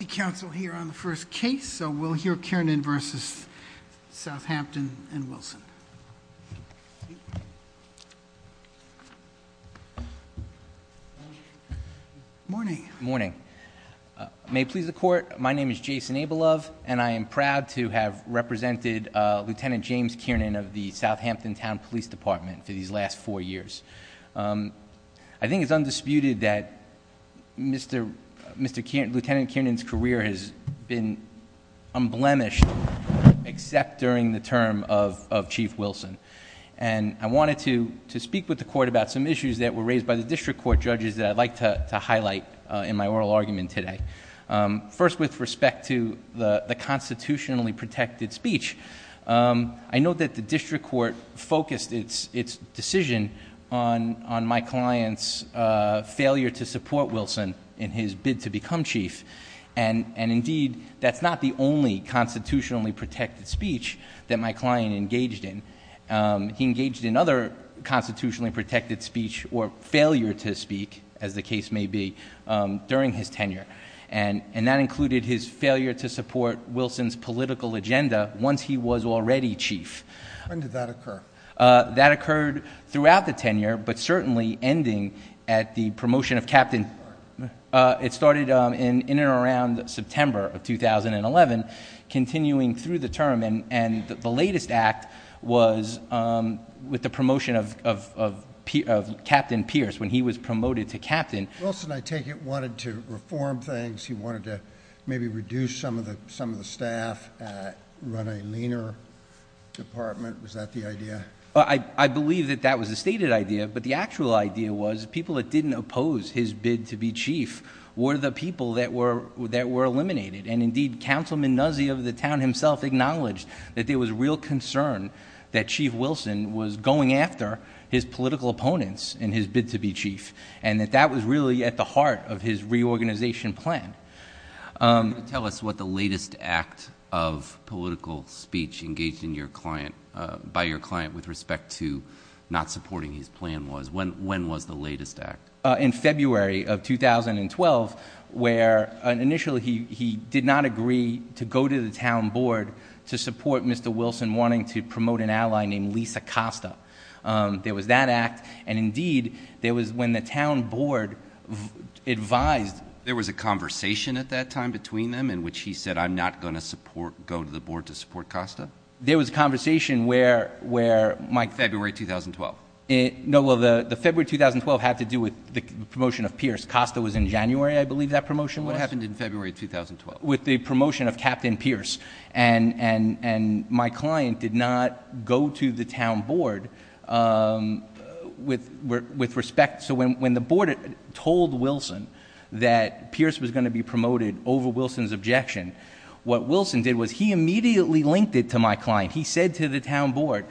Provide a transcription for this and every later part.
City Council here on the first case, so we'll hear Kiernan v. Southampton and Wilson. Morning. Morning. May it please the Court, my name is Jason Abelove and I am proud to have represented Lieutenant James Kiernan of the Southampton Town Police Department for these last four years. I think it's undisputed that Lieutenant Kiernan's career has been unblemished except during the term of Chief Wilson. And I wanted to speak with the Court about some issues that were raised by the District Court judges that I'd like to highlight in my oral argument today. First, with respect to the constitutionally protected speech, I know that the District Court focused its decision on my client's failure to support Wilson in his bid to become Chief. And indeed, that's not the only constitutionally protected speech that my client engaged in. He engaged in other constitutionally protected speech or failure to speak, as the case may be, during his tenure. And that included his failure to support Wilson's political agenda once he was already Chief. When did that occur? That occurred throughout the tenure, but certainly ending at the promotion of Captain. It started in and around September of 2011, continuing through the term. And the latest act was with the promotion of Captain Pierce when he was promoted to Captain. Wilson, I take it, wanted to reform things. He wanted to maybe reduce some of the staff, run a leaner department. Was that the idea? I believe that that was a stated idea, but the actual idea was people that didn't oppose his bid to be Chief were the people that were eliminated. And indeed, Councilman Nuzzi of the town himself acknowledged that there was real concern that Chief Wilson was going after his political opponents in his bid to be Chief. And that that was really at the heart of his reorganization plan. Tell us what the latest act of political speech engaged by your client with respect to not supporting his plan was. When was the latest act? In February of 2012, where initially he did not agree to go to the town board to support Mr. Wilson wanting to promote an ally named Lisa Costa. There was that act, and indeed, there was when the town board advised. There was a conversation at that time between them in which he said, I'm not going to support, go to the board to support Costa? There was a conversation where Mike. February 2012. No, well, the February 2012 had to do with the promotion of Pierce. Costa was in January, I believe that promotion was. What happened in February 2012? With the promotion of Captain Pierce, and my client did not go to the town board with respect. So when the board told Wilson that Pierce was going to be promoted over Wilson's objection, what Wilson did was he immediately linked it to my client. He said to the town board,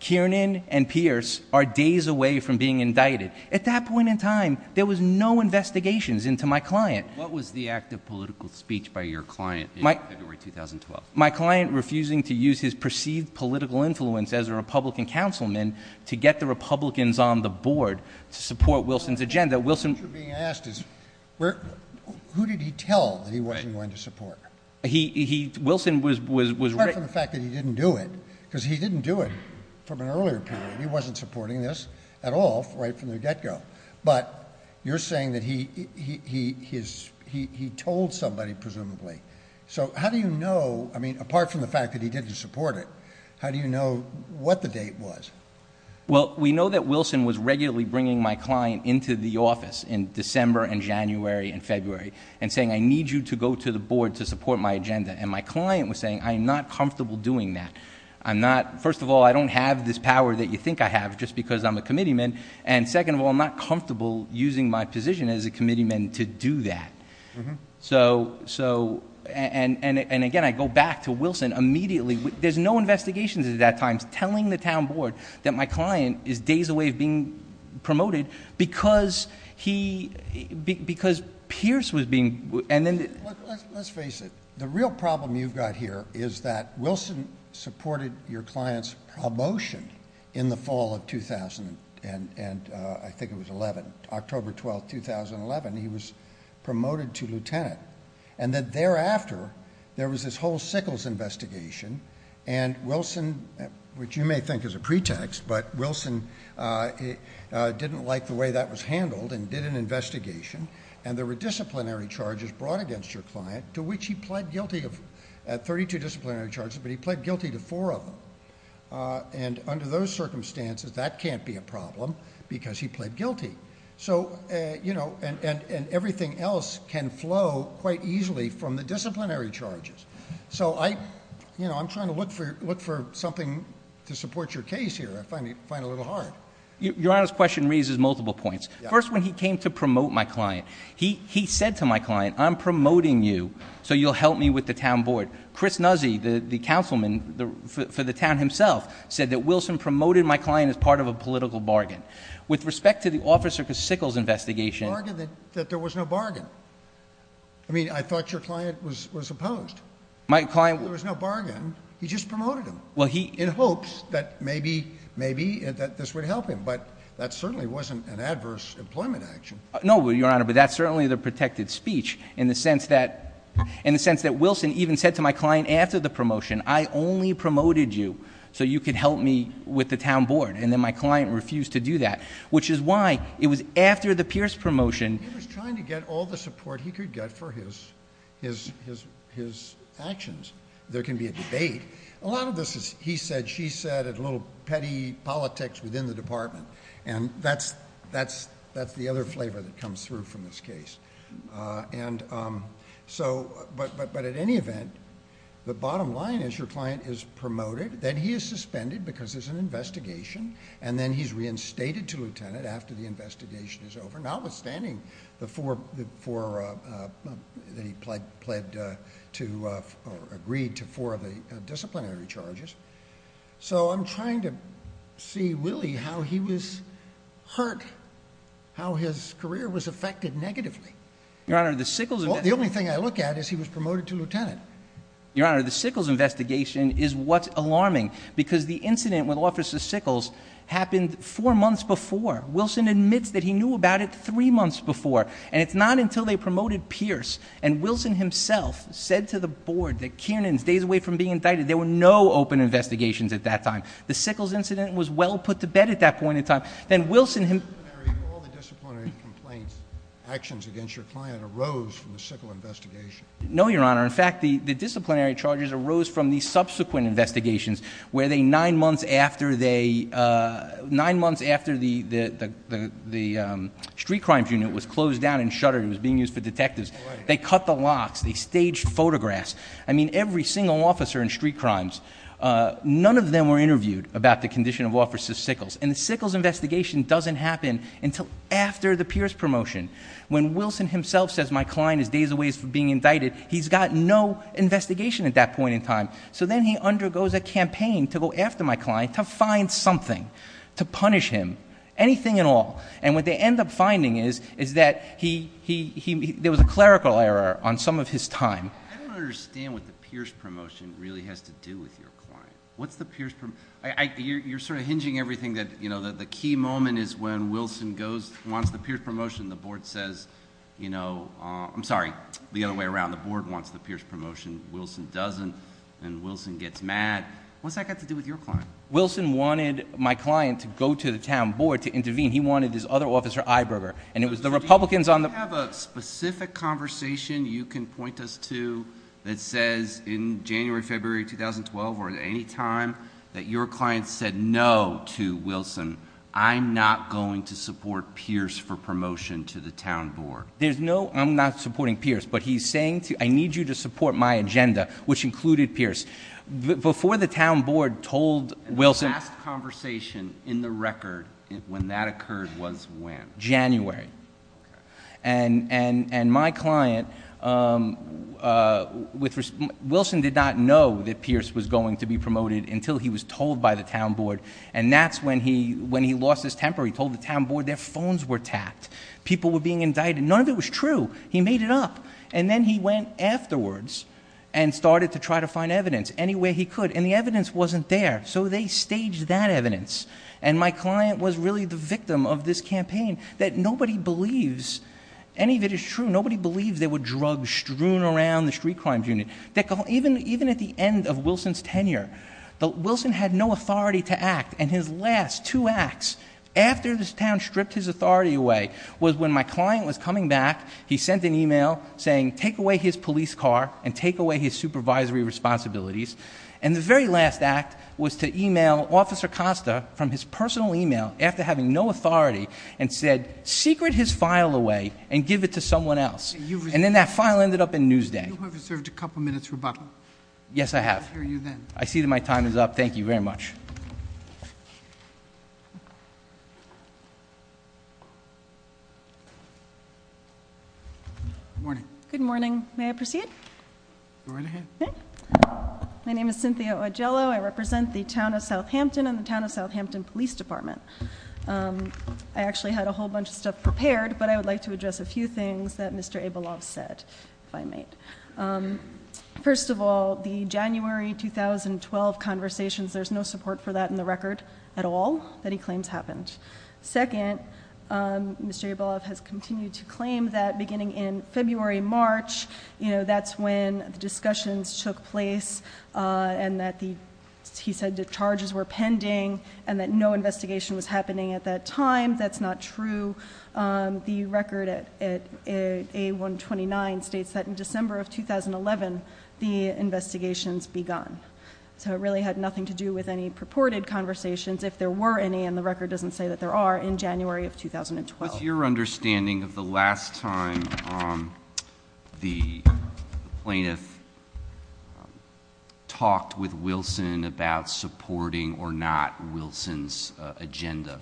Kiernan and Pierce are days away from being indicted. At that point in time, there was no investigations into my client. What was the act of political speech by your client in February 2012? My client refusing to use his perceived political influence as a Republican councilman to get the Republicans on the board to support Wilson's agenda. What you're being asked is, who did he tell that he wasn't going to support? Wilson was. Apart from the fact that he didn't do it, because he didn't do it from an earlier period. He wasn't supporting this at all right from the get-go. But you're saying that he told somebody, presumably. So how do you know, apart from the fact that he didn't support it, how do you know what the date was? Well, we know that Wilson was regularly bringing my client into the office in December and January and February. And saying, I need you to go to the board to support my agenda. And my client was saying, I'm not comfortable doing that. First of all, I don't have this power that you think I have just because I'm a committeeman. And second of all, I'm not comfortable using my position as a committeeman to do that. So, and again, I go back to Wilson immediately. There's no investigations at that time telling the town board that my client is days away from being promoted. Because he, because Pierce was being. Let's face it. The real problem you've got here is that Wilson supported your client's promotion in the fall of 2000. And I think it was 11, October 12, 2011. He was promoted to lieutenant. And then thereafter, there was this whole Sickles investigation. And Wilson, which you may think is a pretext, but Wilson didn't like the way that was handled and did an investigation. And there were disciplinary charges brought against your client, to which he pled guilty of 32 disciplinary charges. But he pled guilty to four of them. And under those circumstances, that can't be a problem because he pled guilty. So, and everything else can flow quite easily from the disciplinary charges. So, I'm trying to look for something to support your case here. I find it a little hard. Your Honor's question raises multiple points. First, when he came to promote my client, he said to my client, I'm promoting you, so you'll help me with the town board. Chris Nuzzi, the councilman for the town himself, said that Wilson promoted my client as part of a political bargain. With respect to the Officer Sickles investigation- Bargain that there was no bargain. I mean, I thought your client was opposed. My client- There was no bargain. He just promoted him. Well, he- In hopes that maybe this would help him. But that certainly wasn't an adverse employment action. No, Your Honor, but that's certainly the protected speech in the sense that Wilson even said to my client after the promotion, I only promoted you so you could help me with the town board. And then my client refused to do that, which is why it was after the Pierce promotion- He was trying to get all the support he could get for his actions. There can be a debate. A lot of this is, he said, she said, a little petty politics within the department. And that's the other flavor that comes through from this case. And so, but at any event, the bottom line is your client is promoted. Then he is suspended because there's an investigation. And then he's reinstated to lieutenant after the investigation is over, notwithstanding the four- that he pled to- or agreed to four of the disciplinary charges. So I'm trying to see Willie how he was hurt, how his career was affected negatively. Your Honor, the Sickles- The only thing I look at is he was promoted to lieutenant. Your Honor, the Sickles investigation is what's alarming because the incident with Officer Sickles happened four months before. Wilson admits that he knew about it three months before. And it's not until they promoted Pierce and Wilson himself said to the board that Kiernan stays away from being indicted. There were no open investigations at that time. The Sickles incident was well put to bed at that point in time. Then Wilson- All the disciplinary complaints, actions against your client arose from the Sickles investigation. No, Your Honor. In fact, the disciplinary charges arose from the subsequent investigations where they, nine months after they- nine months after the street crimes unit was closed down and shuttered, it was being used for detectives. They cut the locks. They staged photographs. I mean, every single officer in street crimes, none of them were interviewed about the condition of Officer Sickles. And the Sickles investigation doesn't happen until after the Pierce promotion. When Wilson himself says my client is days away from being indicted, he's got no investigation at that point in time. So then he undergoes a campaign to go after my client to find something to punish him, anything at all. And what they end up finding is that there was a clerical error on some of his time. I don't understand what the Pierce promotion really has to do with your client. What's the Pierce- You're sort of hinging everything that, you know, the key moment is when Wilson goes, wants the Pierce promotion. The board says, you know, I'm sorry, the other way around. The board wants the Pierce promotion. Wilson doesn't. And Wilson gets mad. What's that got to do with your client? Wilson wanted my client to go to the town board to intervene. He wanted his other officer, Iberger. And it was the Republicans on the- you can point us to that says in January, February 2012 or at any time that your client said no to Wilson. I'm not going to support Pierce for promotion to the town board. There's no I'm not supporting Pierce. But he's saying I need you to support my agenda, which included Pierce. Before the town board told Wilson- And the last conversation in the record when that occurred was when? January. And my client- Wilson did not know that Pierce was going to be promoted until he was told by the town board. And that's when he lost his temper. He told the town board their phones were tapped. People were being indicted. None of it was true. He made it up. And then he went afterwards and started to try to find evidence anywhere he could. And the evidence wasn't there. So they staged that evidence. And my client was really the victim of this campaign that nobody believes any of it is true. Nobody believes there were drugs strewn around the street crimes unit. Even at the end of Wilson's tenure, Wilson had no authority to act. And his last two acts after this town stripped his authority away was when my client was coming back. He sent an email saying take away his police car and take away his supervisory responsibilities. And the very last act was to email Officer Costa from his personal email after having no authority and said secret his file away and give it to someone else. And then that file ended up in Newsday. You have reserved a couple minutes, Rebecca. Yes, I have. I'll hear you then. I see that my time is up. Thank you very much. Good morning. Good morning. May I proceed? Go right ahead. My name is Cynthia Ogiello. I represent the Town of Southampton and the Town of Southampton Police Department. I actually had a whole bunch of stuff prepared, but I would like to address a few things that Mr. Abelov said, if I may. First of all, the January 2012 conversations, there's no support for that in the record at all that he claims happened. Second, Mr. Abelov has continued to claim that beginning in February, March, that's when the discussions took place and that he said the charges were pending and that no investigation was happening at that time. That's not true. The record at A129 states that in December of 2011, the investigations begun. So it really had nothing to do with any purported conversations. If there were any, and the record doesn't say that there are, in January of 2012. How is your understanding of the last time the plaintiff talked with Wilson about supporting or not Wilson's agenda?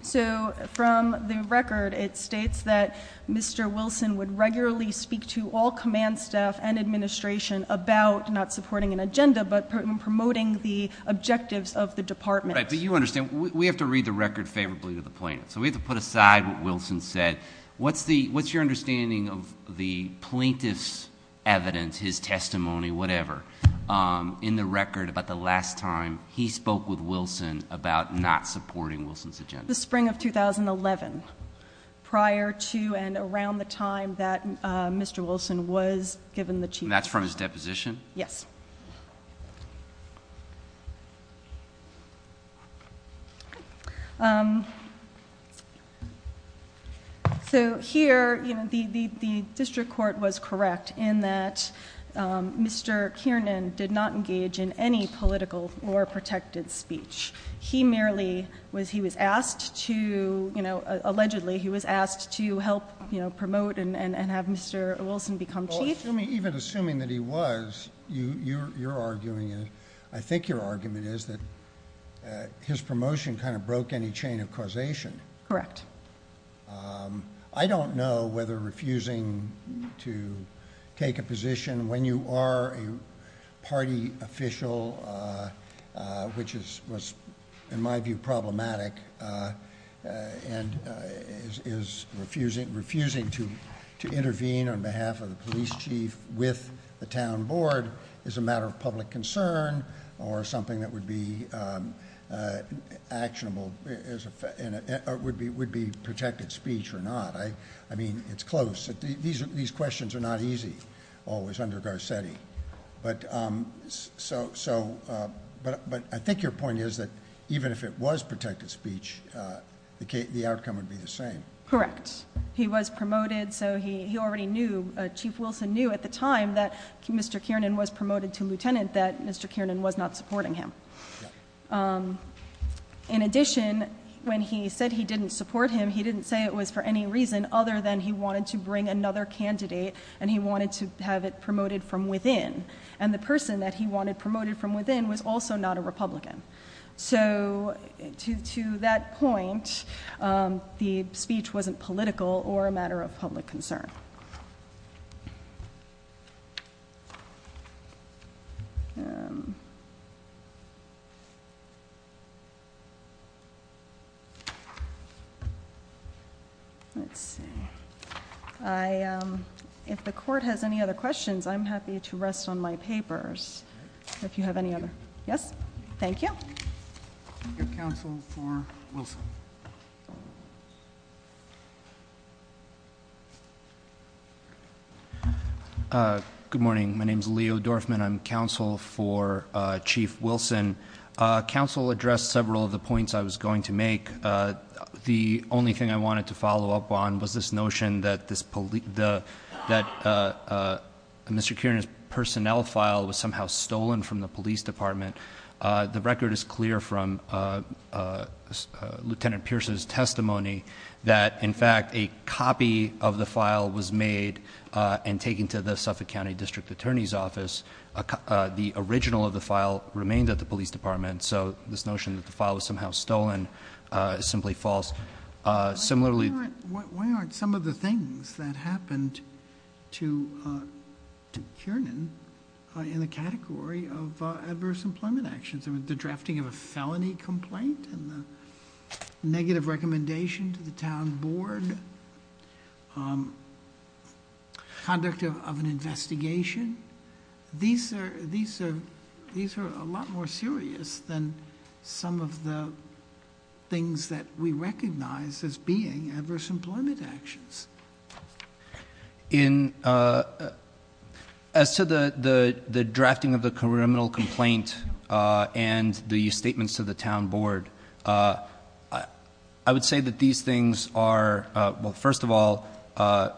So from the record, it states that Mr. Wilson would regularly speak to all command staff and administration about not supporting an agenda, but promoting the objectives of the department. Right, but you understand, we have to read the record favorably to the plaintiff. So we have to put aside what Wilson said. What's your understanding of the plaintiff's evidence, his testimony, whatever, in the record about the last time he spoke with Wilson about not supporting Wilson's agenda? The spring of 2011, prior to and around the time that Mr. Wilson was given the Chief Justice. And that's from his deposition? Yes. So here, the district court was correct in that Mr. Kiernan did not engage in any political or protected speech. He merely was, he was asked to, allegedly he was asked to help promote and have Mr. Wilson become Chief. Even assuming that he was, you're arguing, I think your argument is that his promotion kind of broke any chain of causation. Correct. I don't know whether refusing to take a position when you are a party official, which is, in my view, problematic, and is refusing to intervene on behalf of the police chief with the town board, is a matter of public concern or something that would be actionable, would be protected speech or not. I mean, it's close. These questions are not easy, always, under Garcetti. But I think your point is that even if it was protected speech, the outcome would be the same. Correct. He was promoted, so he already knew, Chief Wilson knew at the time that Mr. Kiernan was promoted to lieutenant, that Mr. Kiernan was not supporting him. In addition, when he said he didn't support him, he didn't say it was for any reason other than he wanted to bring another candidate, and he wanted to have it promoted from within. And the person that he wanted promoted from within was also not a Republican. So to that point, the speech wasn't political or a matter of public concern. If the court has any other questions, I'm happy to rest on my papers. If you have any other, yes? Thank you. Your counsel for Wilson. Good morning. My name's Leo Dorfman. I'm counsel for Chief Wilson. Counsel addressed several of the points I was going to make. The only thing I wanted to follow up on was this notion that Mr. Kiernan's personnel file was somehow stolen from the police department. The record is clear from Lieutenant Pierce's testimony that, in fact, a copy of the file was made and taken to the Suffolk County District Attorney's office. The original of the file remained at the police department. So this notion that the file was somehow stolen is simply false. Similarly- Why aren't some of the things that happened to Kiernan in the category of adverse employment actions? I mean, the drafting of a felony complaint and the negative recommendation to the town board, conduct of an investigation. These are a lot more serious than some of the things that we recognize as being adverse employment actions. As to the drafting of the criminal complaint and the statements to the town board, I would say that these things are, well, first of all, the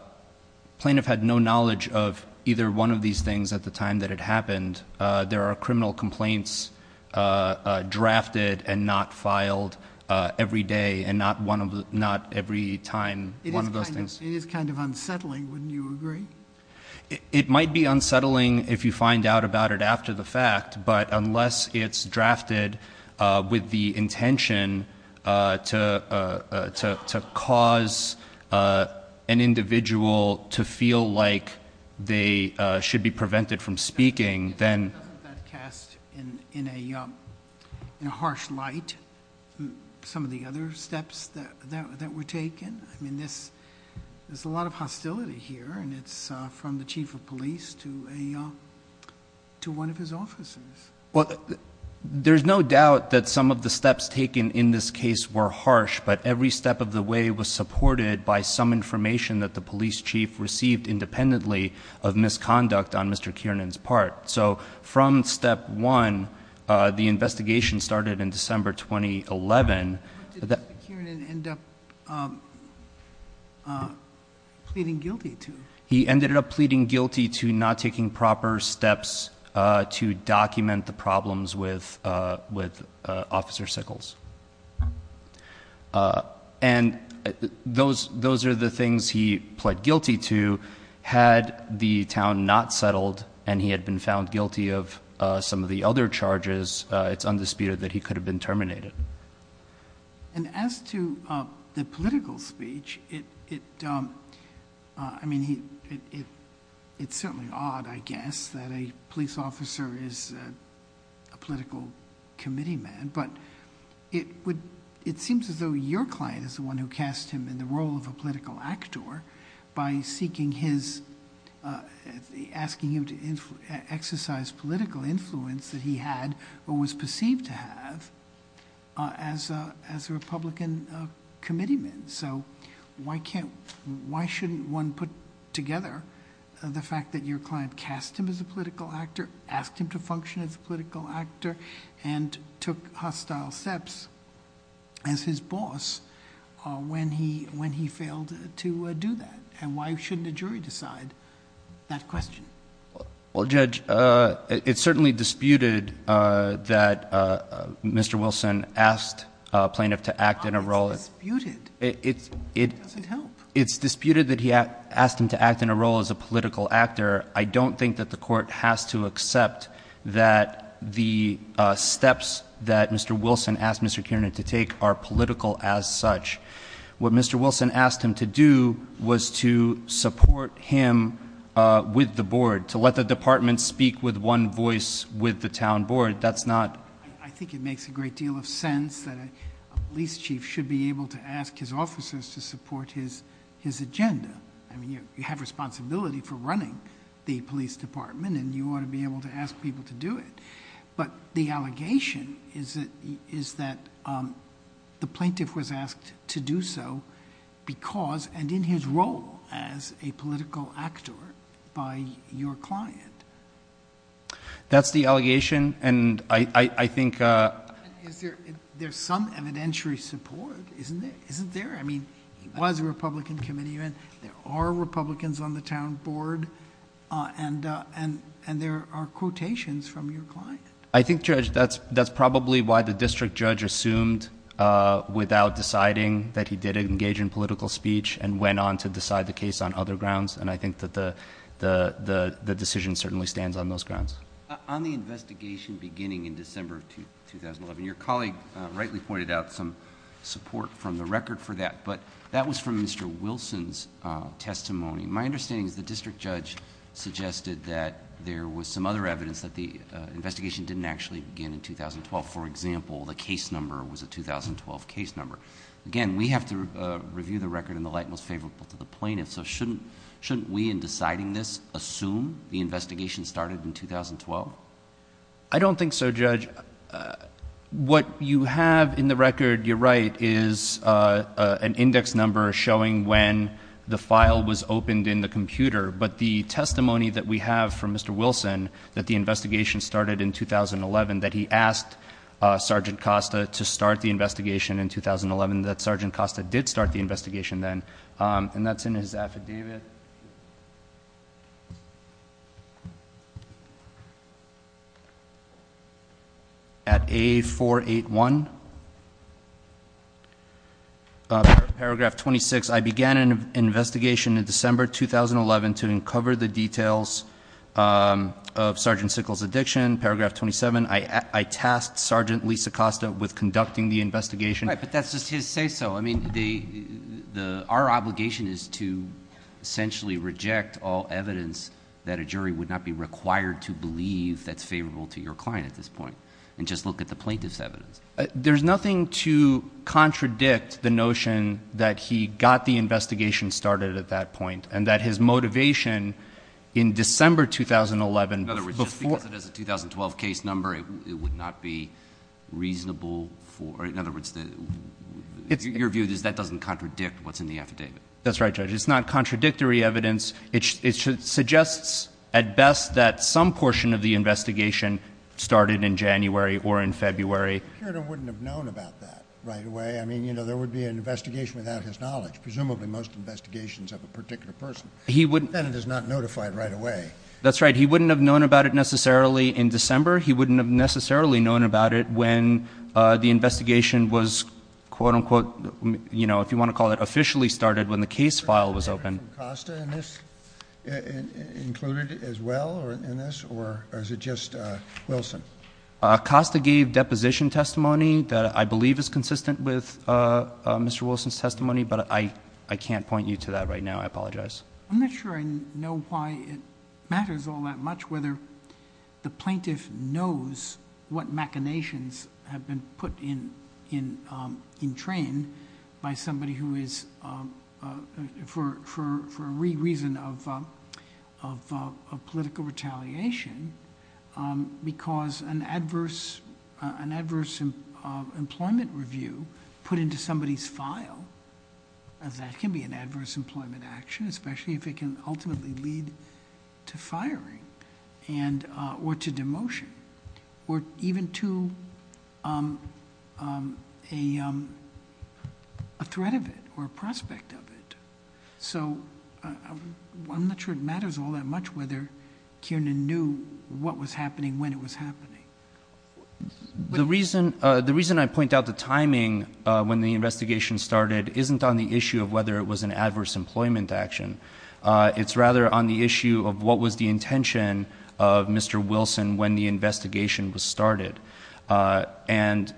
plaintiff had no knowledge of either one of these things at the time that it happened. There are criminal complaints drafted and not filed every day and not every time one of those things. It is kind of unsettling, wouldn't you agree? It might be unsettling if you find out about it after the fact, but unless it's drafted with the intention to cause an individual to feel like they should be prevented from speaking, then- Doesn't that cast in a harsh light some of the other steps that were taken? I mean, there's a lot of hostility here, and it's from the chief of police to one of his officers. Well, there's no doubt that some of the steps taken in this case were harsh, but every step of the way was supported by some information that the police chief received independently of misconduct on Mr. Kiernan's part. So from step one, the investigation started in December 2011- What did Mr. Kiernan end up pleading guilty to? He ended up pleading guilty to not taking proper steps to document the problems with Officer Sickles, and those are the things he pled guilty to had the town not settled and he had been found guilty of some of the other charges, it's undisputed that he could have been terminated. And as to the political speech, it's certainly odd, I guess, that a police officer is a political committee man, but it seems as though your client is the one who cast him in the role of a political actor by asking him to exercise political influence that he had or was perceived to have as a Republican committeeman. So why shouldn't one put together the fact that your client cast him as a political actor, asked him to function as a political actor, and took hostile steps as his boss when he failed to do that? And why shouldn't a jury decide that question? Well, Judge, it's certainly disputed that Mr. Wilson asked a plaintiff to act in a role- It's disputed. It doesn't help. It's disputed that he asked him to act in a role as a political actor. I don't think that the court has to accept that the steps that Mr. Wilson asked Mr. Kiernan to take are political as such. What Mr. Wilson asked him to do was to support him with the board, to let the department speak with one voice with the town board. That's not- I think it makes a great deal of sense that a police chief should be able to ask his officers to support his agenda. I mean, you have responsibility for running the police department, and you ought to be able to ask people to do it. But the allegation is that the plaintiff was asked to do so because and in his role as a political actor by your client. That's the allegation, and I think- There's some evidentiary support, isn't there? I mean, he was a Republican committee member. There are Republicans on the town board, and there are quotations from your client. I think, Judge, that's probably why the district judge assumed without deciding that he did engage in political speech and went on to decide the case on other grounds, and I think that the decision certainly stands on those grounds. On the investigation beginning in December of 2011, your colleague rightly pointed out some support from the record for that, but that was from Mr. Wilson's testimony. My understanding is the district judge suggested that there was some other evidence that the investigation didn't actually begin in 2012. For example, the case number was a 2012 case number. Again, we have to review the record in the light most favorable to the plaintiff, so shouldn't we in deciding this assume the investigation started in 2012? I don't think so, Judge. What you have in the record, you're right, is an index number showing when the file was opened in the computer, but the testimony that we have from Mr. Wilson that the investigation started in 2011, that he asked Sergeant Costa to start the investigation in 2011, that Sergeant Costa did start the investigation then, and that's in his affidavit. At A481, paragraph 26, I began an investigation in December 2011 to uncover the details of Sergeant Sickles' addiction. Paragraph 27, I tasked Sergeant Lisa Costa with conducting the investigation. Right, but that's just his say-so. Our obligation is to essentially reject all evidence that a jury would not be required to believe that's favorable to your client at this point and just look at the plaintiff's evidence. There's nothing to contradict the notion that he got the investigation started at that point and that his motivation in December 2011 before— In other words, just because it is a 2012 case number, it would not be reasonable for— In other words, your view is that that doesn't contradict what's in the affidavit. That's right, Judge. It's not contradictory evidence. It suggests at best that some portion of the investigation started in January or in February. The prosecutor wouldn't have known about that right away. I mean, there would be an investigation without his knowledge. Presumably, most investigations have a particular person. He wouldn't— The defendant is not notified right away. That's right. He wouldn't have known about it necessarily in December. He wouldn't have necessarily known about it when the investigation was, quote-unquote, you know, if you want to call it, officially started when the case file was opened. Was Costa included as well in this, or is it just Wilson? Costa gave deposition testimony that I believe is consistent with Mr. Wilson's testimony, but I can't point you to that right now. I apologize. I'm not sure I know why it matters all that much whether the plaintiff knows what machinations have been put in train by somebody who is for a reason of political retaliation because an adverse employment review put into somebody's file, that can be an adverse employment action, especially if it can ultimately lead to firing or to demotion or even to a threat of it or a prospect of it. So I'm not sure it matters all that much whether Kiernan knew what was happening when it was happening. The reason I point out the timing when the investigation started isn't on the issue of whether it was an adverse employment action. It's rather on the issue of what was the intention of Mr. Wilson when the investigation was started. And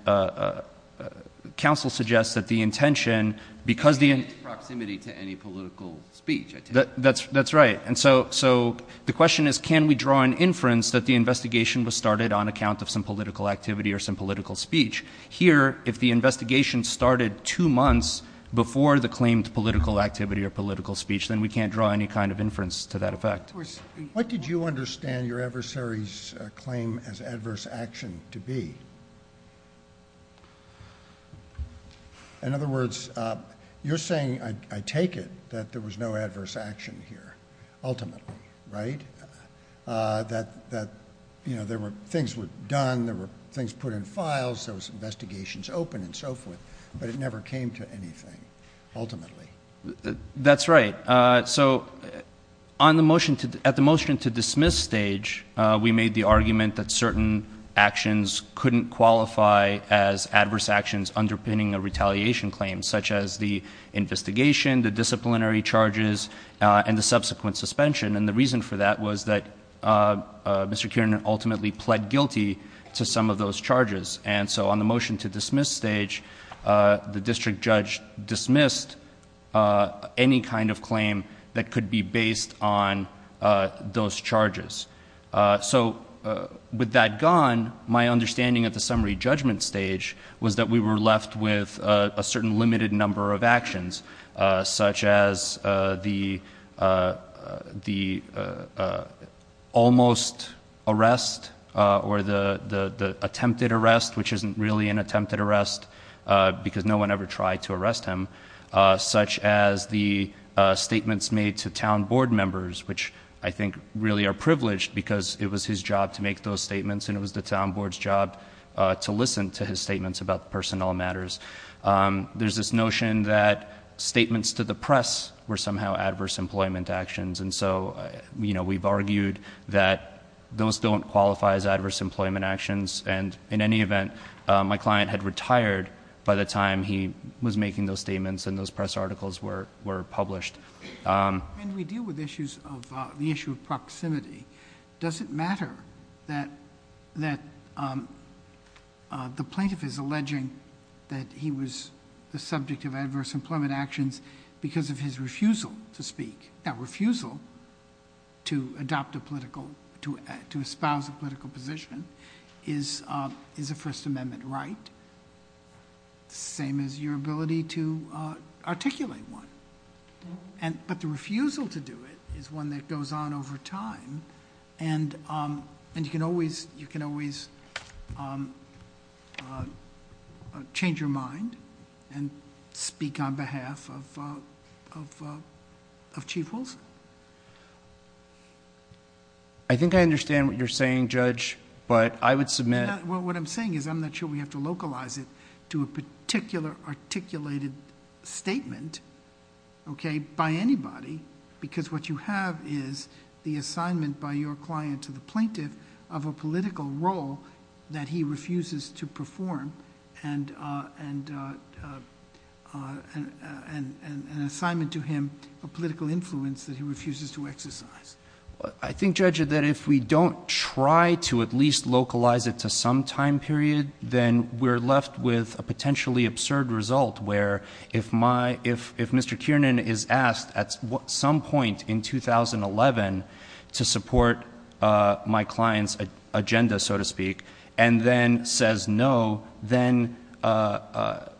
counsel suggests that the intention, because the— In its proximity to any political speech, I take it. That's right. And so the question is, can we draw an inference that the investigation was started on account of some political activity or some political speech? Here, if the investigation started two months before the claimed political activity or political speech, then we can't draw any kind of inference to that effect. What did you understand your adversary's claim as adverse action to be? In other words, you're saying, I take it, that there was no adverse action here ultimately, right? That things were done, there were things put in files, there was investigations open and so forth, but it never came to anything ultimately. That's right. So at the motion to dismiss stage, we made the argument that certain actions couldn't qualify as adverse actions underpinning a retaliation claim, such as the investigation, the disciplinary charges, and the subsequent suspension. And the reason for that was that Mr. Kiernan ultimately pled guilty to some of those charges. And so on the motion to dismiss stage, the district judge dismissed any kind of claim that could be based on those charges. So with that gone, my understanding at the summary judgment stage was that we were left with a certain limited number of actions, such as the almost arrest or the attempted arrest, which isn't really an attempted arrest because no one ever tried to arrest him, such as the statements made to town board members, which I think really are privileged because it was his job to make those statements and it was the town board's job to listen to his statements about personnel matters. There's this notion that statements to the press were somehow adverse employment actions, and so we've argued that those don't qualify as adverse employment actions. And in any event, my client had retired by the time he was making those statements and those press articles were published. When we deal with the issue of proximity, does it matter that the plaintiff is alleging that he was the subject of adverse employment actions because of his refusal to speak? That refusal to adopt a political, to espouse a political position is a First Amendment right, same as your ability to articulate one. But the refusal to do it is one that goes on over time, and you can always change your mind and speak on behalf of Chief Wilson. I think I understand what you're saying, Judge, but I would submit... What I'm saying is I'm not sure we have to localize it to a particular articulated statement by anybody because what you have is the assignment by your client to the plaintiff of a political role that he refuses to perform and an assignment to him of political influence that he refuses to exercise. I think, Judge, that if we don't try to at least localize it to some time period, then we're left with a potentially absurd result where if Mr. Kiernan is asked at some point in 2011 to support my client's agenda, so to speak, and then says no, then I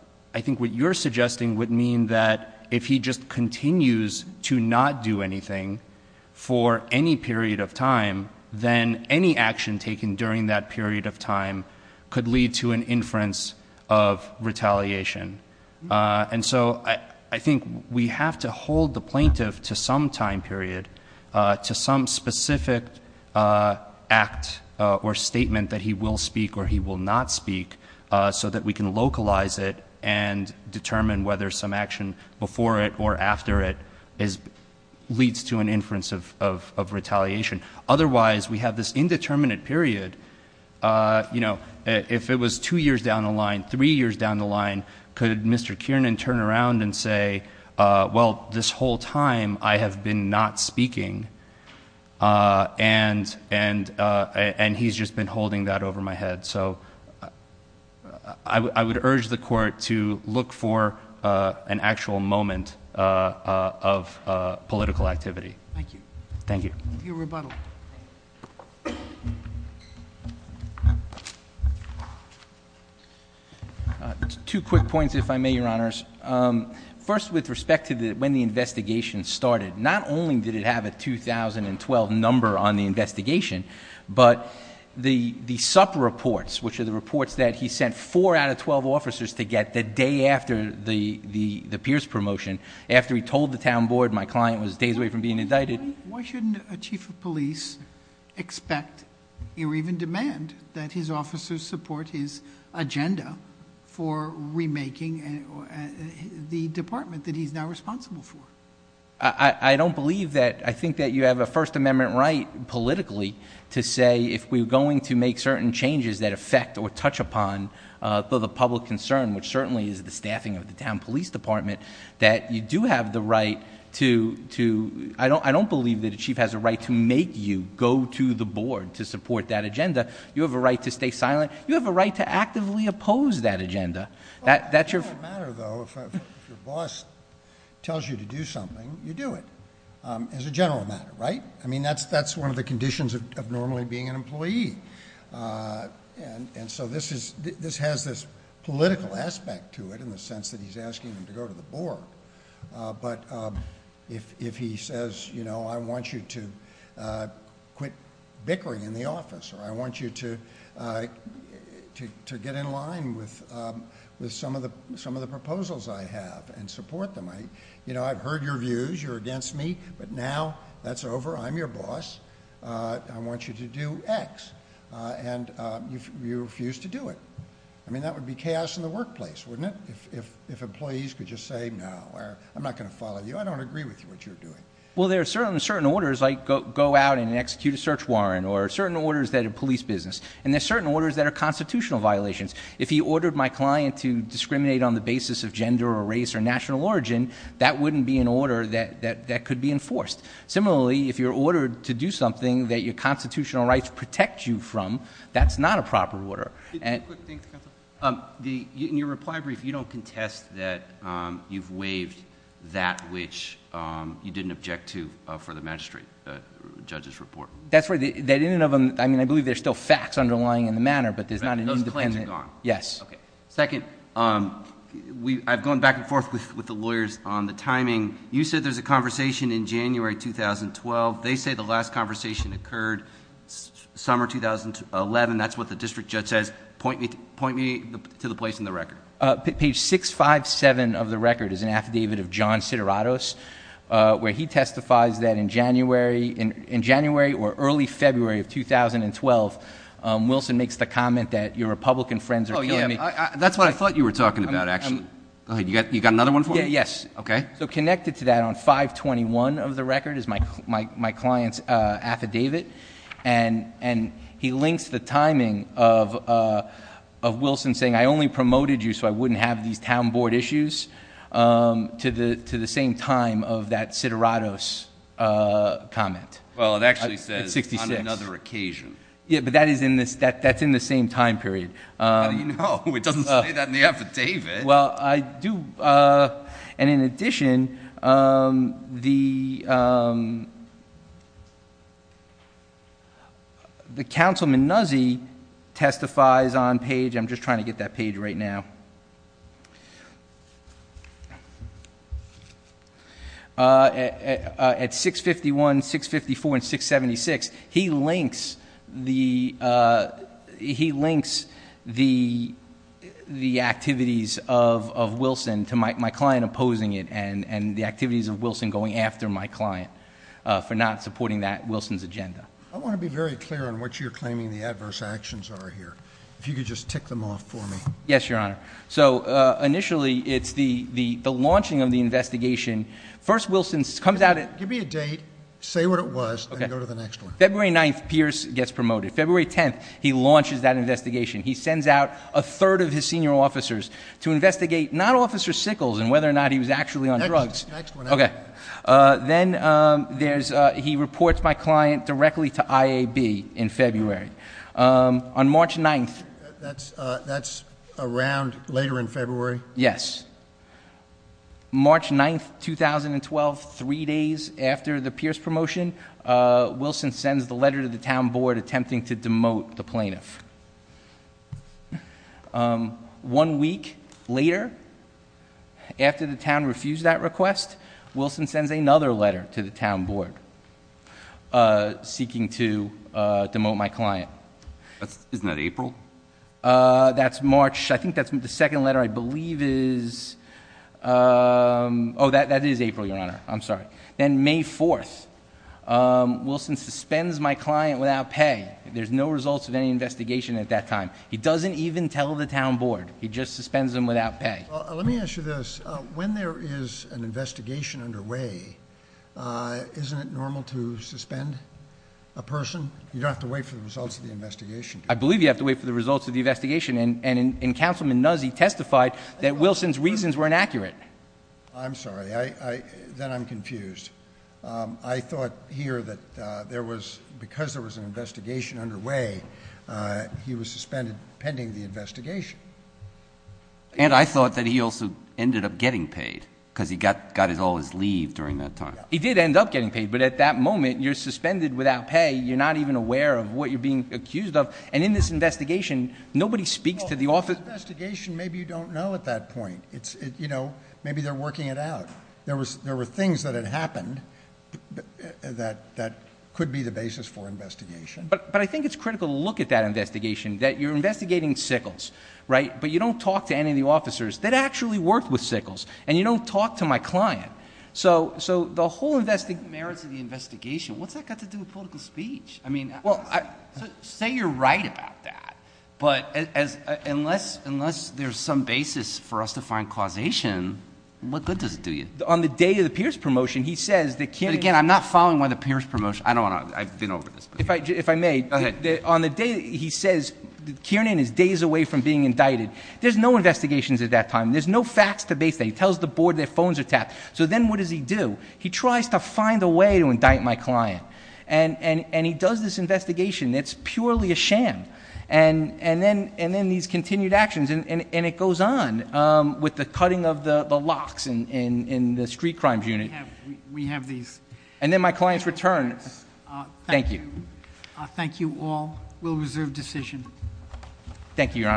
think what you're suggesting would mean that if he just continues to not do anything for any period of time, then any action taken during that period of time could lead to an inference of retaliation. And so I think we have to hold the plaintiff to some time period, to some specific act or statement that he will speak or he will not speak, so that we can localize it and determine whether some action before it or after it leads to an inference of retaliation. Otherwise, we have this indeterminate period. If it was two years down the line, three years down the line, could Mr. Kiernan turn around and say, well, this whole time I have been not speaking, and he's just been holding that over my head. So I would urge the Court to look for an actual moment of political activity. Thank you. Thank you. Your rebuttal. Two quick points, if I may, Your Honors. First, with respect to when the investigation started, not only did it have a 2012 number on the investigation, but the SUP reports, which are the reports that he sent four out of 12 officers to get the day after the Pierce promotion, and after he told the town board my client was days away from being indicted. Why shouldn't a chief of police expect or even demand that his officers support his agenda for remaking the department that he's now responsible for? I don't believe that. I think that you have a First Amendment right politically to say if we're going to make certain changes that affect or touch upon the public concern, which certainly is the staffing of the town police department, that you do have the right to ‑‑ I don't believe that a chief has a right to make you go to the board to support that agenda. You have a right to stay silent. You have a right to actively oppose that agenda. That's your ‑‑ It's a general matter, though. If your boss tells you to do something, you do it. It's a general matter, right? I mean, that's one of the conditions of normally being an employee. And so this has this political aspect to it in the sense that he's asking them to go to the board. But if he says, you know, I want you to quit bickering in the office, or I want you to get in line with some of the proposals I have and support them. You know, I've heard your views. You're against me, but now that's over. I'm your boss. I want you to do X. And you refuse to do it. I mean, that would be chaos in the workplace, wouldn't it? If employees could just say, no, I'm not going to follow you. I don't agree with what you're doing. Well, there are certain orders, like go out and execute a search warrant, or certain orders that are police business. And there are certain orders that are constitutional violations. If he ordered my client to discriminate on the basis of gender or race or national origin, that wouldn't be an order that could be enforced. Similarly, if you're ordered to do something that your constitutional rights protect you from, that's not a proper order. In your reply brief, you don't contest that you've waived that which you didn't object to for the magistrate judge's report. That's right. I mean, I believe there's still facts underlying in the matter, but there's not a new defendant. Those claims are gone. Yes. Okay. Second, I've gone back and forth with the lawyers on the timing. You said there's a conversation in January 2012. They say the last conversation occurred summer 2011. That's what the district judge says. Point me to the place in the record. Page 657 of the record is an affidavit of John Sideratos, where he testifies that in January or early February of 2012, Wilson makes the comment that your Republican friends are killing me. That's what I thought you were talking about, actually. Go ahead. You got another one for me? Yes. Okay. So connected to that on 521 of the record is my client's affidavit, and he links the timing of Wilson saying, I only promoted you so I wouldn't have these town board issues to the same time of that Sideratos comment. Well, it actually says on another occasion. Yeah, but that's in the same time period. How do you know? It doesn't say that in the affidavit. Well, I do. And in addition, the councilman Nuzzi testifies on page, I'm just trying to get that page right now, At 651, 654, and 676, he links the activities of Wilson to my client opposing it, and the activities of Wilson going after my client for not supporting that Wilson's agenda. I want to be very clear on what you're claiming the adverse actions are here. If you could just tick them off for me. Yes, Your Honor. So initially, it's the launching of the investigation. First, Wilson comes out. Give me a date, say what it was, and go to the next one. February 9th, Pierce gets promoted. February 10th, he launches that investigation. He sends out a third of his senior officers to investigate not Officer Sickles and whether or not he was actually on drugs. Next one. Okay. Then he reports my client directly to IAB in February. On March 9th. That's around later in February? Yes. March 9th, 2012, three days after the Pierce promotion, Wilson sends the letter to the town board attempting to demote the plaintiff. One week later, after the town refused that request, Wilson sends another letter to the town board seeking to demote my client. Isn't that April? That's March. I think that's the second letter I believe is. Oh, that is April, Your Honor. I'm sorry. Then May 4th, Wilson suspends my client without pay. There's no results of any investigation at that time. He doesn't even tell the town board. He just suspends him without pay. Let me ask you this. When there is an investigation underway, isn't it normal to suspend a person? You don't have to wait for the results of the investigation. I believe you have to wait for the results of the investigation. And Councilman Nuzzi testified that Wilson's reasons were inaccurate. I'm sorry. Then I'm confused. I thought here that because there was an investigation underway, he was suspended pending the investigation. And I thought that he also ended up getting paid because he got all his leave during that time. He did end up getting paid. But at that moment, you're suspended without pay. You're not even aware of what you're being accused of. And in this investigation, nobody speaks to the office. The investigation, maybe you don't know at that point. Maybe they're working it out. There were things that had happened that could be the basis for investigation. But I think it's critical to look at that investigation, that you're investigating Sickles. But you don't talk to any of the officers that actually worked with Sickles. And you don't talk to my client. So the whole merits of the investigation, what's that got to do with political speech? Well, say you're right about that. But unless there's some basis for us to find causation, what good does it do you? On the day of the Pierce promotion, he says that Kiernan— But, again, I'm not following one of the Pierce promotions. I've been over this before. If I may. Go ahead. On the day, he says Kiernan is days away from being indicted. There's no investigations at that time. There's no facts to base that. He tells the board their phones are tapped. So then what does he do? He tries to find a way to indict my client. And he does this investigation. It's purely a sham. And then these continued actions. And it goes on with the cutting of the locks in the street crimes unit. We have these. And then my client's return. Thank you. Thank you all. We'll reserve decision. Thank you, Your Honor.